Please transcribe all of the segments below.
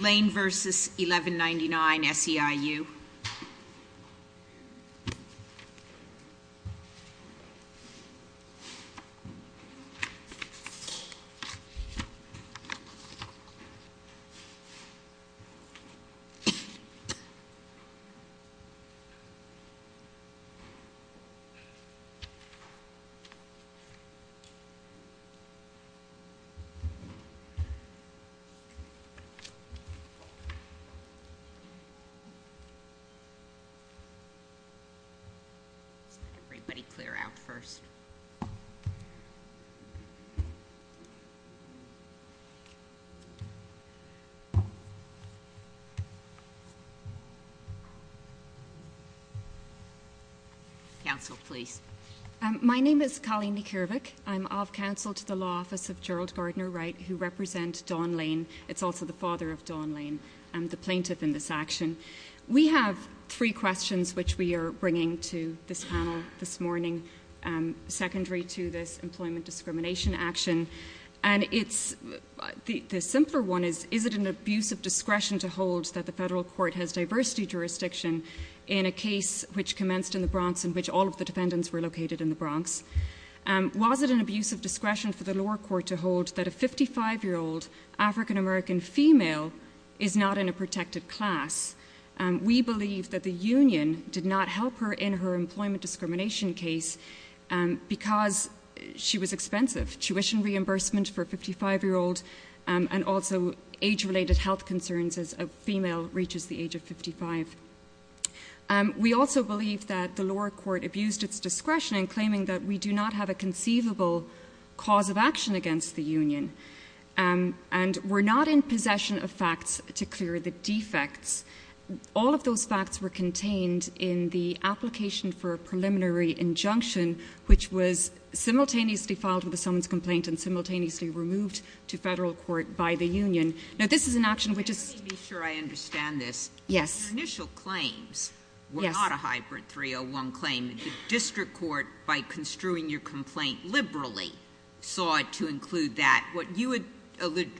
Lane v. 1199, SEIU. We have three questions which we are bringing to this panel this morning, secondary to this employment discrimination action. The simpler one is, is it an abuse of discretion to hold that the federal court has diversity jurisdiction in a case which commenced in the Bronx in which all of the defendants were located in the Bronx? Was it an abuse of discretion for the lower court to hold that a 55-year-old African-American female is not in a protected class? We believe that the union did not help her in her employment discrimination case because she was expensive. Tuition reimbursement for a 55-year-old and also age-related health concerns as a female reaches the age of 55. We also believe that the lower court abused its discretion in claiming that we do not have a conceivable cause of action against the union. We are not in possession of facts to clear the defects. All of those facts were contained in the application for a preliminary injunction which was simultaneously filed with a summons complaint and simultaneously removed to federal court by the union. This is an action which is— Let me be sure I understand this. Yes. Your initial claims were not a hybrid 301 claim. The district court, by construing your complaint liberally, sought to include that. What you had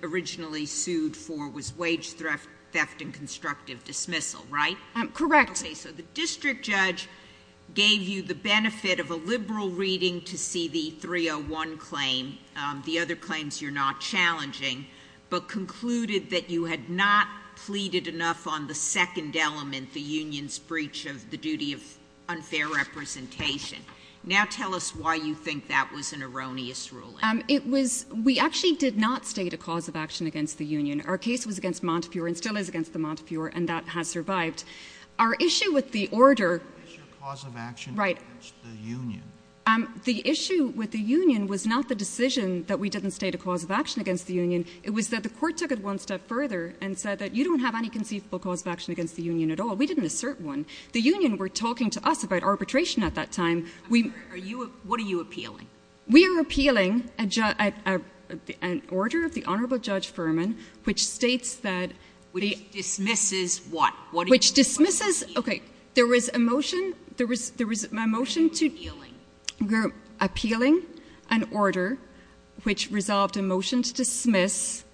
originally sued for was wage theft and constructive dismissal, right? Correct. Okay. So the district judge gave you the benefit of a liberal reading to see the 301 claim, the other claims you're not challenging, but concluded that you had not pleaded enough on the second element, the union's breach of the duty of unfair representation. Now tell us why you think that was an erroneous ruling. It was—we actually did not state a cause of action against the union. Our case was against Montefiore and still is against the Montefiore, and that has survived. Our issue with the order— It's your cause of action against the union. Right. The issue with the union was not the decision that we didn't state a cause of action against the union. It was that the court took it one step further and said that you don't have any conceivable cause of action against the union at all. We didn't assert one. The union were talking to us about arbitration at that time. What are you appealing? We are appealing an order of the Honorable Judge Furman which states that— Which dismisses what? Which dismisses— What are you appealing? Okay. There was a motion— What are you appealing? We're appealing an order which resolved a motion to dismiss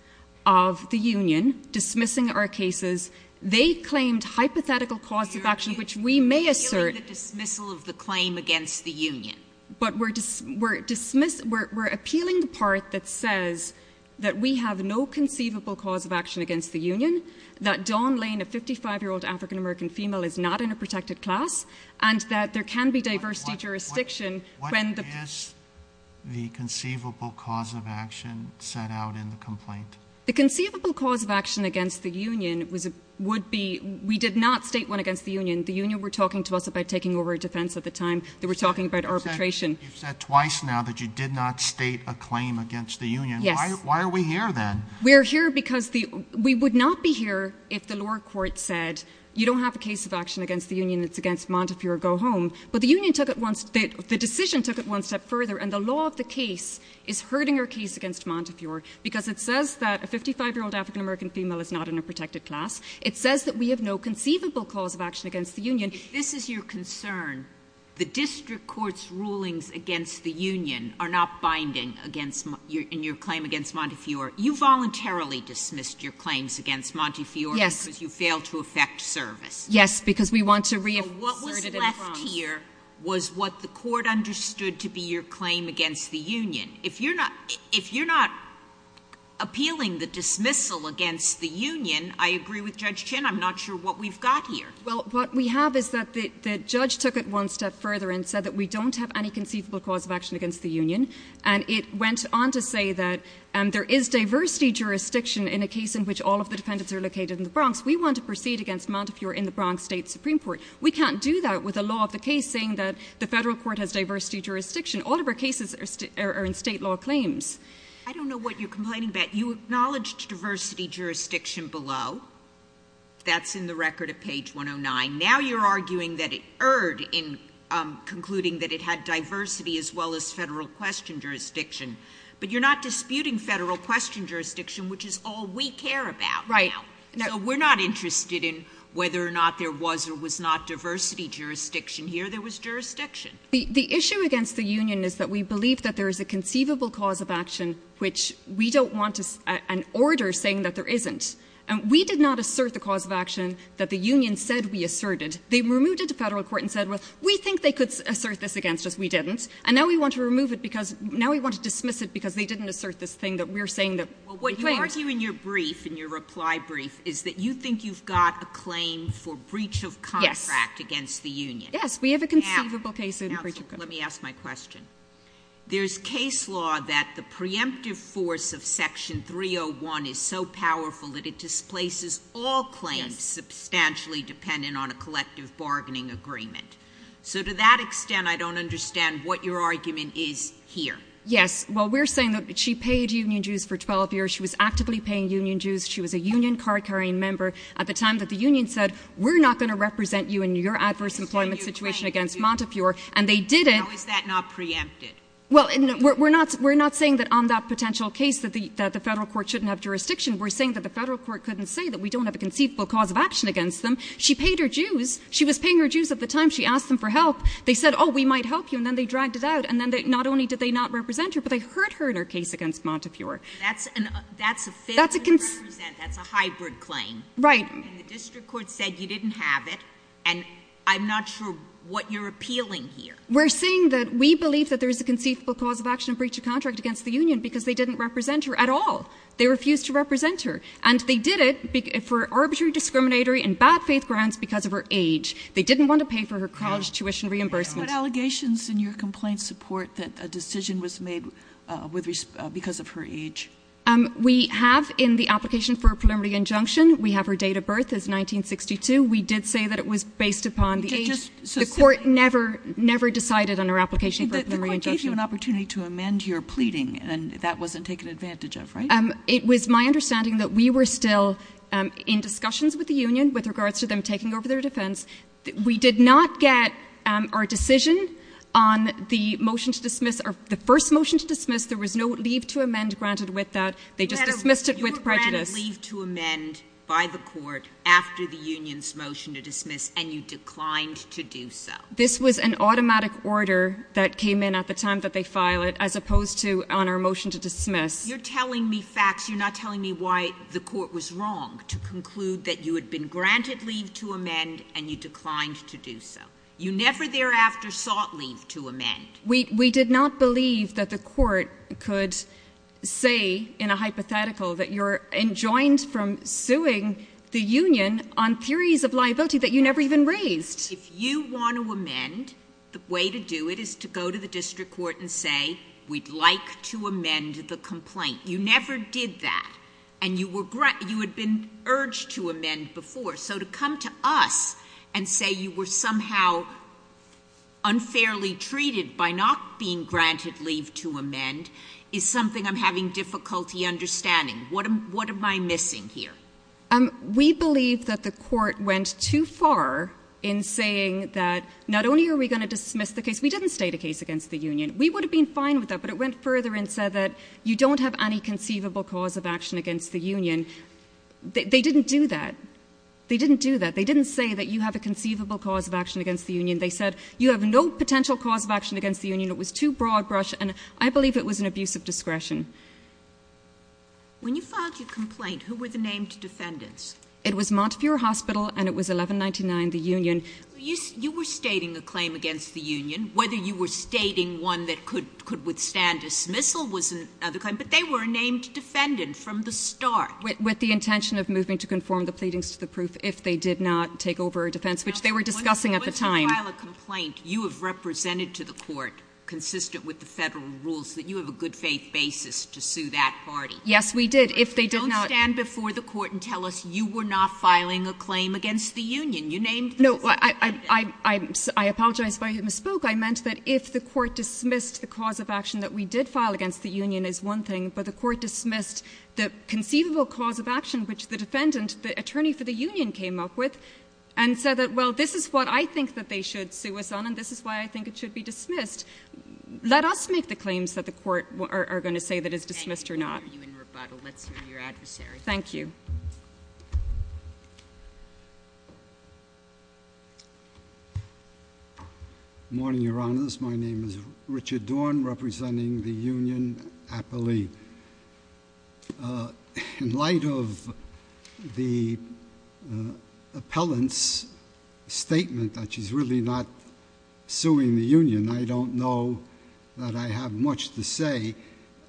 of the union, dismissing our cases. They claimed hypothetical cause of action which we may assert— You're appealing the dismissal of the claim against the union. But we're appealing the part that says that we have no conceivable cause of action against the union, that Dawn Lane, a 55-year-old African-American female, is not in a protected class, and that there can be diversity jurisdiction when the— What is the conceivable cause of action set out in the complaint? The conceivable cause of action against the union would be—we did not state one against the union. The union were talking to us about taking over a defense at the time. They were talking about arbitration. You've said twice now that you did not state a claim against the union. Yes. Why are we here then? We're here because the—we would not be here if the lower court said, you don't have a cause of action against the union. It's against Montefiore. Go home. But the union took it one—the decision took it one step further, and the law of the case is hurting our case against Montefiore because it says that a 55-year-old African-American female is not in a protected class. It says that we have no conceivable cause of action against the union. If this is your concern, the district court's rulings against the union are not binding against your—in your claim against Montefiore. You voluntarily dismissed your claims against Montefiore because you failed to effect service. Yes, because we want to— So what was left here was what the court understood to be your claim against the union. If you're not—if you're not appealing the dismissal against the union, I agree with Judge Chin. I'm not sure what we've got here. Well, what we have is that the judge took it one step further and said that we don't have any conceivable cause of action against the union, and it went on to say that there is diversity jurisdiction in a case in which all of the defendants are located in the Bronx. We want to proceed against Montefiore in the Bronx State Supreme Court. We can't do that with a law of the case saying that the federal court has diversity jurisdiction. All of our cases are in state law claims. I don't know what you're complaining about. You acknowledged diversity jurisdiction below. That's in the record at page 109. Now you're arguing that it erred in concluding that it had diversity as well as federal question jurisdiction. But you're not disputing federal question jurisdiction, which is all we care about now. So we're not interested in whether or not there was or was not diversity jurisdiction here. There was jurisdiction. The issue against the union is that we believe that there is a conceivable cause of action, which we don't want an order saying that there isn't. And we did not assert the cause of action that the union said we asserted. They removed it to federal court and said, well, we think they could assert this against us. We didn't. And now we want to remove it because now we want to dismiss it because they didn't assert this thing that we're saying that. Well, what you argue in your brief, in your reply brief, is that you think you've got a claim for breach of contract against the union. Yes, we have a conceivable case in breach of contract. Let me ask my question. There's case law that the preemptive force of section 301 is so powerful that it displaces all claims substantially dependent on a collective bargaining agreement. So to that extent, I don't understand what your argument is here. Yes. Well, we're saying that she paid union Jews for 12 years. She was actively paying union Jews. She was a union card carrying member at the time that the union said, we're not going to represent you in your adverse employment situation against Montefiore. And they did it. Is that not preempted? Well, we're not we're not saying that on that potential case that the federal court shouldn't have jurisdiction. We're saying that the federal court couldn't say that we don't have a conceivable cause of action against them. She paid her Jews. She was paying her Jews at the time. She asked them for help. They said, oh, we might help you. And then they dragged it out. And then they, not only did they not represent her, but they hurt her in her case against Montefiore. That's a, that's a, that's a hybrid claim, right? And the district court said you didn't have it. And I'm not sure what you're appealing here. We're saying that we believe that there is a conceivable cause of action breach of contract against the union because they didn't represent her at all. They refused to represent her and they did it for arbitrary discriminatory and bad faith grounds because of her age. They didn't want to pay for her college tuition reimbursement. Are there any allegations in your complaint support that a decision was made with, because of her age? We have in the application for a preliminary injunction, we have her date of birth is 1962. We did say that it was based upon the age. The court never, never decided on our application for a preliminary injunction. The court gave you an opportunity to amend your pleading and that wasn't taken advantage of, right? It was my understanding that we were still in discussions with the union with regards to them taking over their defense. We did not get our decision on the motion to dismiss or the first motion to dismiss. There was no leave to amend granted with that. They just dismissed it with prejudice. You were granted leave to amend by the court after the union's motion to dismiss and you declined to do so. This was an automatic order that came in at the time that they file it as opposed to on our motion to dismiss. You're telling me facts. You're not telling me why the court was wrong to conclude that you had been granted leave to amend and you declined to do so. You never thereafter sought leave to amend. We, we did not believe that the court could say in a hypothetical that you're enjoined from suing the union on theories of liability that you never even raised. If you want to amend, the way to do it is to go to the district court and say, we'd like to amend the complaint. You never did that and you were, you had been urged to amend before. So to come to us and say you were somehow unfairly treated by not being granted leave to amend is something I'm having difficulty understanding. What am, what am I missing here? We believe that the court went too far in saying that not only are we going to dismiss the case, we didn't state a case against the union. We would have been fine with that, but it went further and said that you don't have any conceivable cause of action against the union. They didn't do that. They didn't do that. They didn't say that you have a conceivable cause of action against the union. They said you have no potential cause of action against the union. It was too broad brush and I believe it was an abuse of discretion. When you filed your complaint, who were the named defendants? It was Montefiore Hospital and it was 1199, the union. You were stating a claim against the union, whether you were stating one that could withstand dismissal was another claim, but they were named defendant from the start. With the intention of moving to conform the pleadings to the proof if they did not take over a defense, which they were discussing at the time. Once you file a complaint, you have represented to the court consistent with the federal rules that you have a good faith basis to sue that party. Yes, we did. If they did not. Don't stand before the court and tell us you were not filing a claim against the union. You named the defendant. No, I, I, I, I, I apologize if I misspoke. I meant that if the court dismissed the cause of action that we did file against the union is one thing, but the court dismissed the conceivable cause of action, which the defendant, the attorney for the union came up with and said that, well, this is what I think that they should sue us on. And this is why I think it should be dismissed. Let us make the claims that the court are going to say that is dismissed or not. Thank you. Good morning, your honors. My name is Richard Dorn representing the union, Appalee, uh, in light of the, uh, appellant's statement that she's really not suing the union, I don't know that I have much to say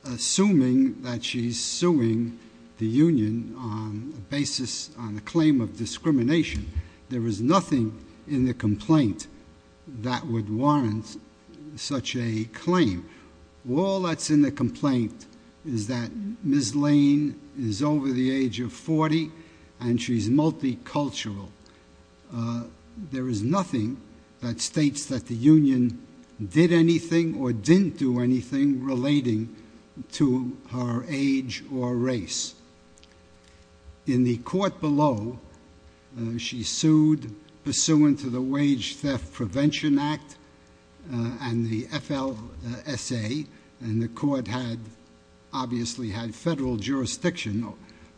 assuming that she's suing the union on a basis on the claim of discrimination. There was nothing in the complaint that would warrant such a claim. All that's in the complaint is that Ms. Lane is over the age of 40 and she's multicultural. Uh, there is nothing that states that the union did anything or didn't do anything relating to her age or race. In the court below, uh, she sued pursuant to the Wage Theft Prevention Act, uh, and the FLSA, and the court had obviously had federal jurisdiction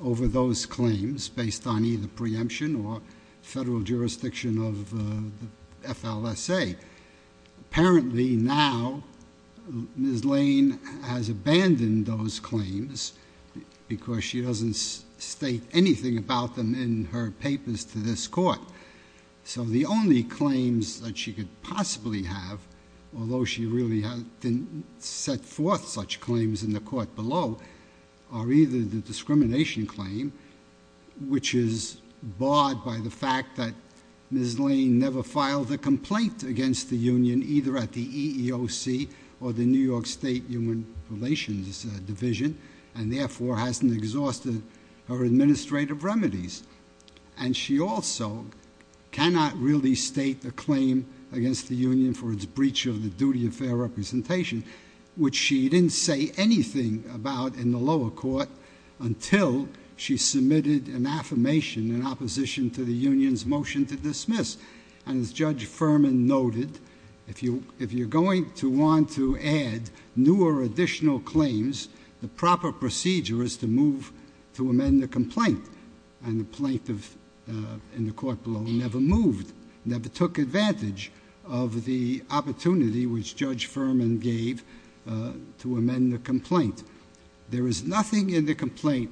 over those claims based on either preemption or federal jurisdiction of, uh, the FLSA. Apparently now Ms. Lane has abandoned those claims because she doesn't state anything about them in her papers to this court. So the only claims that she could possibly have, although she really didn't set forth such claims in the court below, are either the discrimination claim, which is barred by the fact that Ms. Lane never filed a complaint against the union, either at the EEOC or the New York State Human Relations Division, and therefore hasn't exhausted her administrative remedies. And she also cannot really state the claim against the union for its breach of the duty of fair representation, which she didn't say anything about in the lower court until she submitted an affirmation in opposition to the union's motion to dismiss. And as Judge Furman noted, if you, if you're going to want to add new or additional claims, the proper procedure is to move to amend the complaint. And the plaintiff, uh, in the court below never moved, never took advantage of the opportunity which Judge Furman gave, uh, to amend the complaint. There is nothing in the complaint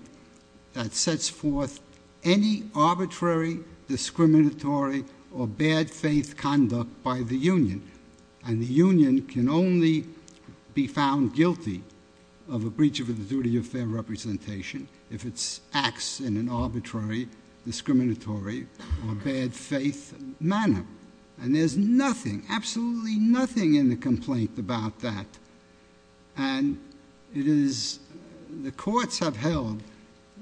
that sets forth any arbitrary, discriminatory, or bad-faith conduct by the union. And the union can only be found guilty of a breach of the duty of fair representation if it acts in an arbitrary, discriminatory, or bad-faith manner. And there's nothing, absolutely nothing in the complaint about that. And it is, the courts have held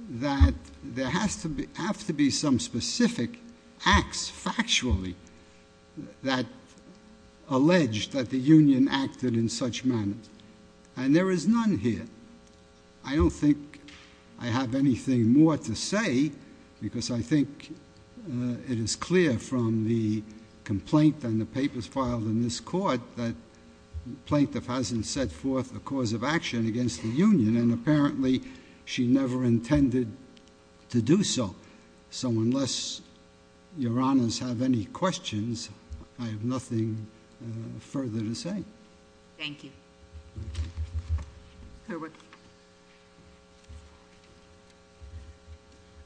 that there has to be, have to be some specific acts factually that allege that the union acted in such manners. And there is none here. I don't think I have anything more to say because I think, uh, it is clear from the complaint and the papers filed in this court that the plaintiff hasn't set forth a cause of action against the union and apparently she never intended to do so. So unless your honors have any questions, I have nothing, uh, further to say. Thank you. Clearwood.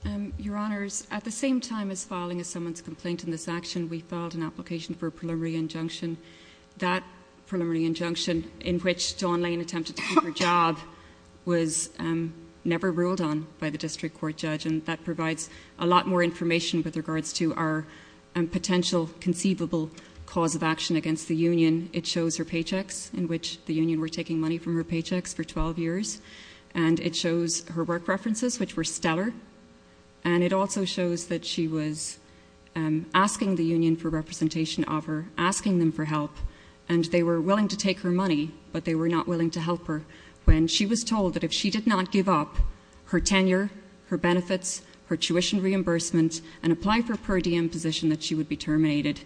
Um, your honors, at the same time as filing a summons complaint in this action, we filed an application for a preliminary injunction. That preliminary injunction in which Dawn Lane attempted to keep her job was, um, never ruled on by the district court judge and that provides a lot more information with regards to our, um, potential conceivable cause of action against the union. In the union, it shows her paychecks in which the union were taking money from her paychecks for 12 years. And it shows her work references, which were stellar. And it also shows that she was, um, asking the union for representation of her, asking them for help. And they were willing to take her money, but they were not willing to help her. When she was told that if she did not give up her tenure, her benefits, her tuition reimbursement and apply for per diem position that she would be terminated.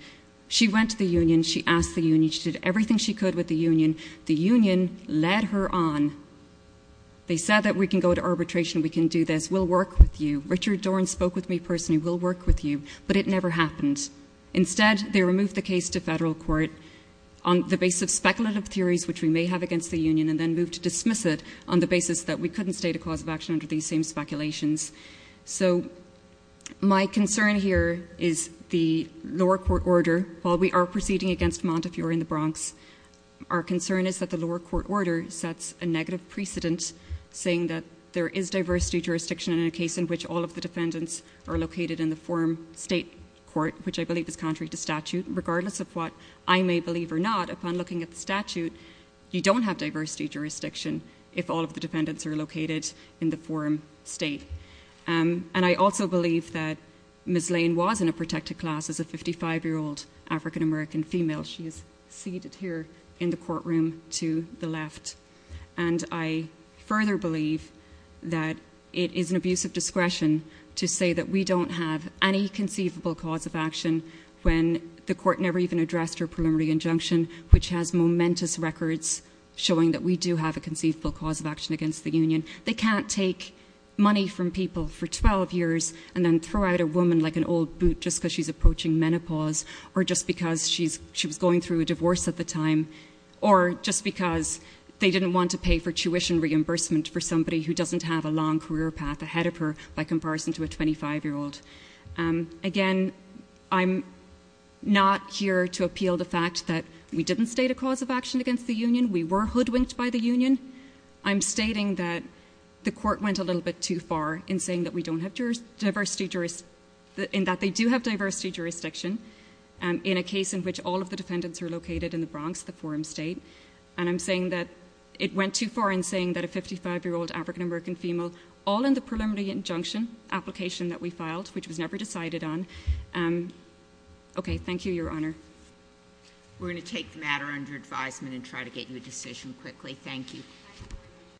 She went to the union. She asked the union. She did everything she could with the union. The union led her on. They said that we can go to arbitration. We can do this. We'll work with you. Richard Doran spoke with me personally. We'll work with you. But it never happened. Instead, they removed the case to federal court on the basis of speculative theories, which we may have against the union, and then moved to dismiss it on the basis that we couldn't state a cause of action under these same speculations. So my concern here is the lower court order, while we are proceeding against Montefiore in the Bronx, our concern is that the lower court order sets a negative precedent saying that there is diversity jurisdiction in a case in which all of the defendants are located in the forum state court, which I believe is contrary to statute, regardless of what I may believe or not, upon looking at the statute, you don't have diversity jurisdiction if all of the defendants are located in the forum state. And I also believe that Ms. Lane was in a protected class as a 55-year-old African-American female. She is seated here in the courtroom to the left. And I further believe that it is an abuse of discretion to say that we don't have any conceivable cause of action when the court never even addressed her preliminary injunction, which has momentous records showing that we do have a conceivable cause of action against the union. They can't take money from people for 12 years and then throw out a woman like an old boot just because she's approaching menopause, or just because she was going through a divorce at the time, or just because they didn't want to pay for tuition reimbursement for somebody who doesn't have a long career path ahead of her by comparison to a 25-year-old. Again, I'm not here to appeal the fact that we didn't state a cause of action against the union. We were hoodwinked by the union. I'm stating that the court went a little bit too far in saying that we don't have diversity jurisdiction, in that they do have diversity jurisdiction in a case in which all of the defendants are located in the Bronx, the forum state. And I'm saying that it went too far in saying that a 55-year-old African-American female, all in the preliminary injunction application that we filed, which was never decided on. Okay, thank you, Your Honor. We're going to take the matter under advisement and try to get you a decision quickly. Thank you.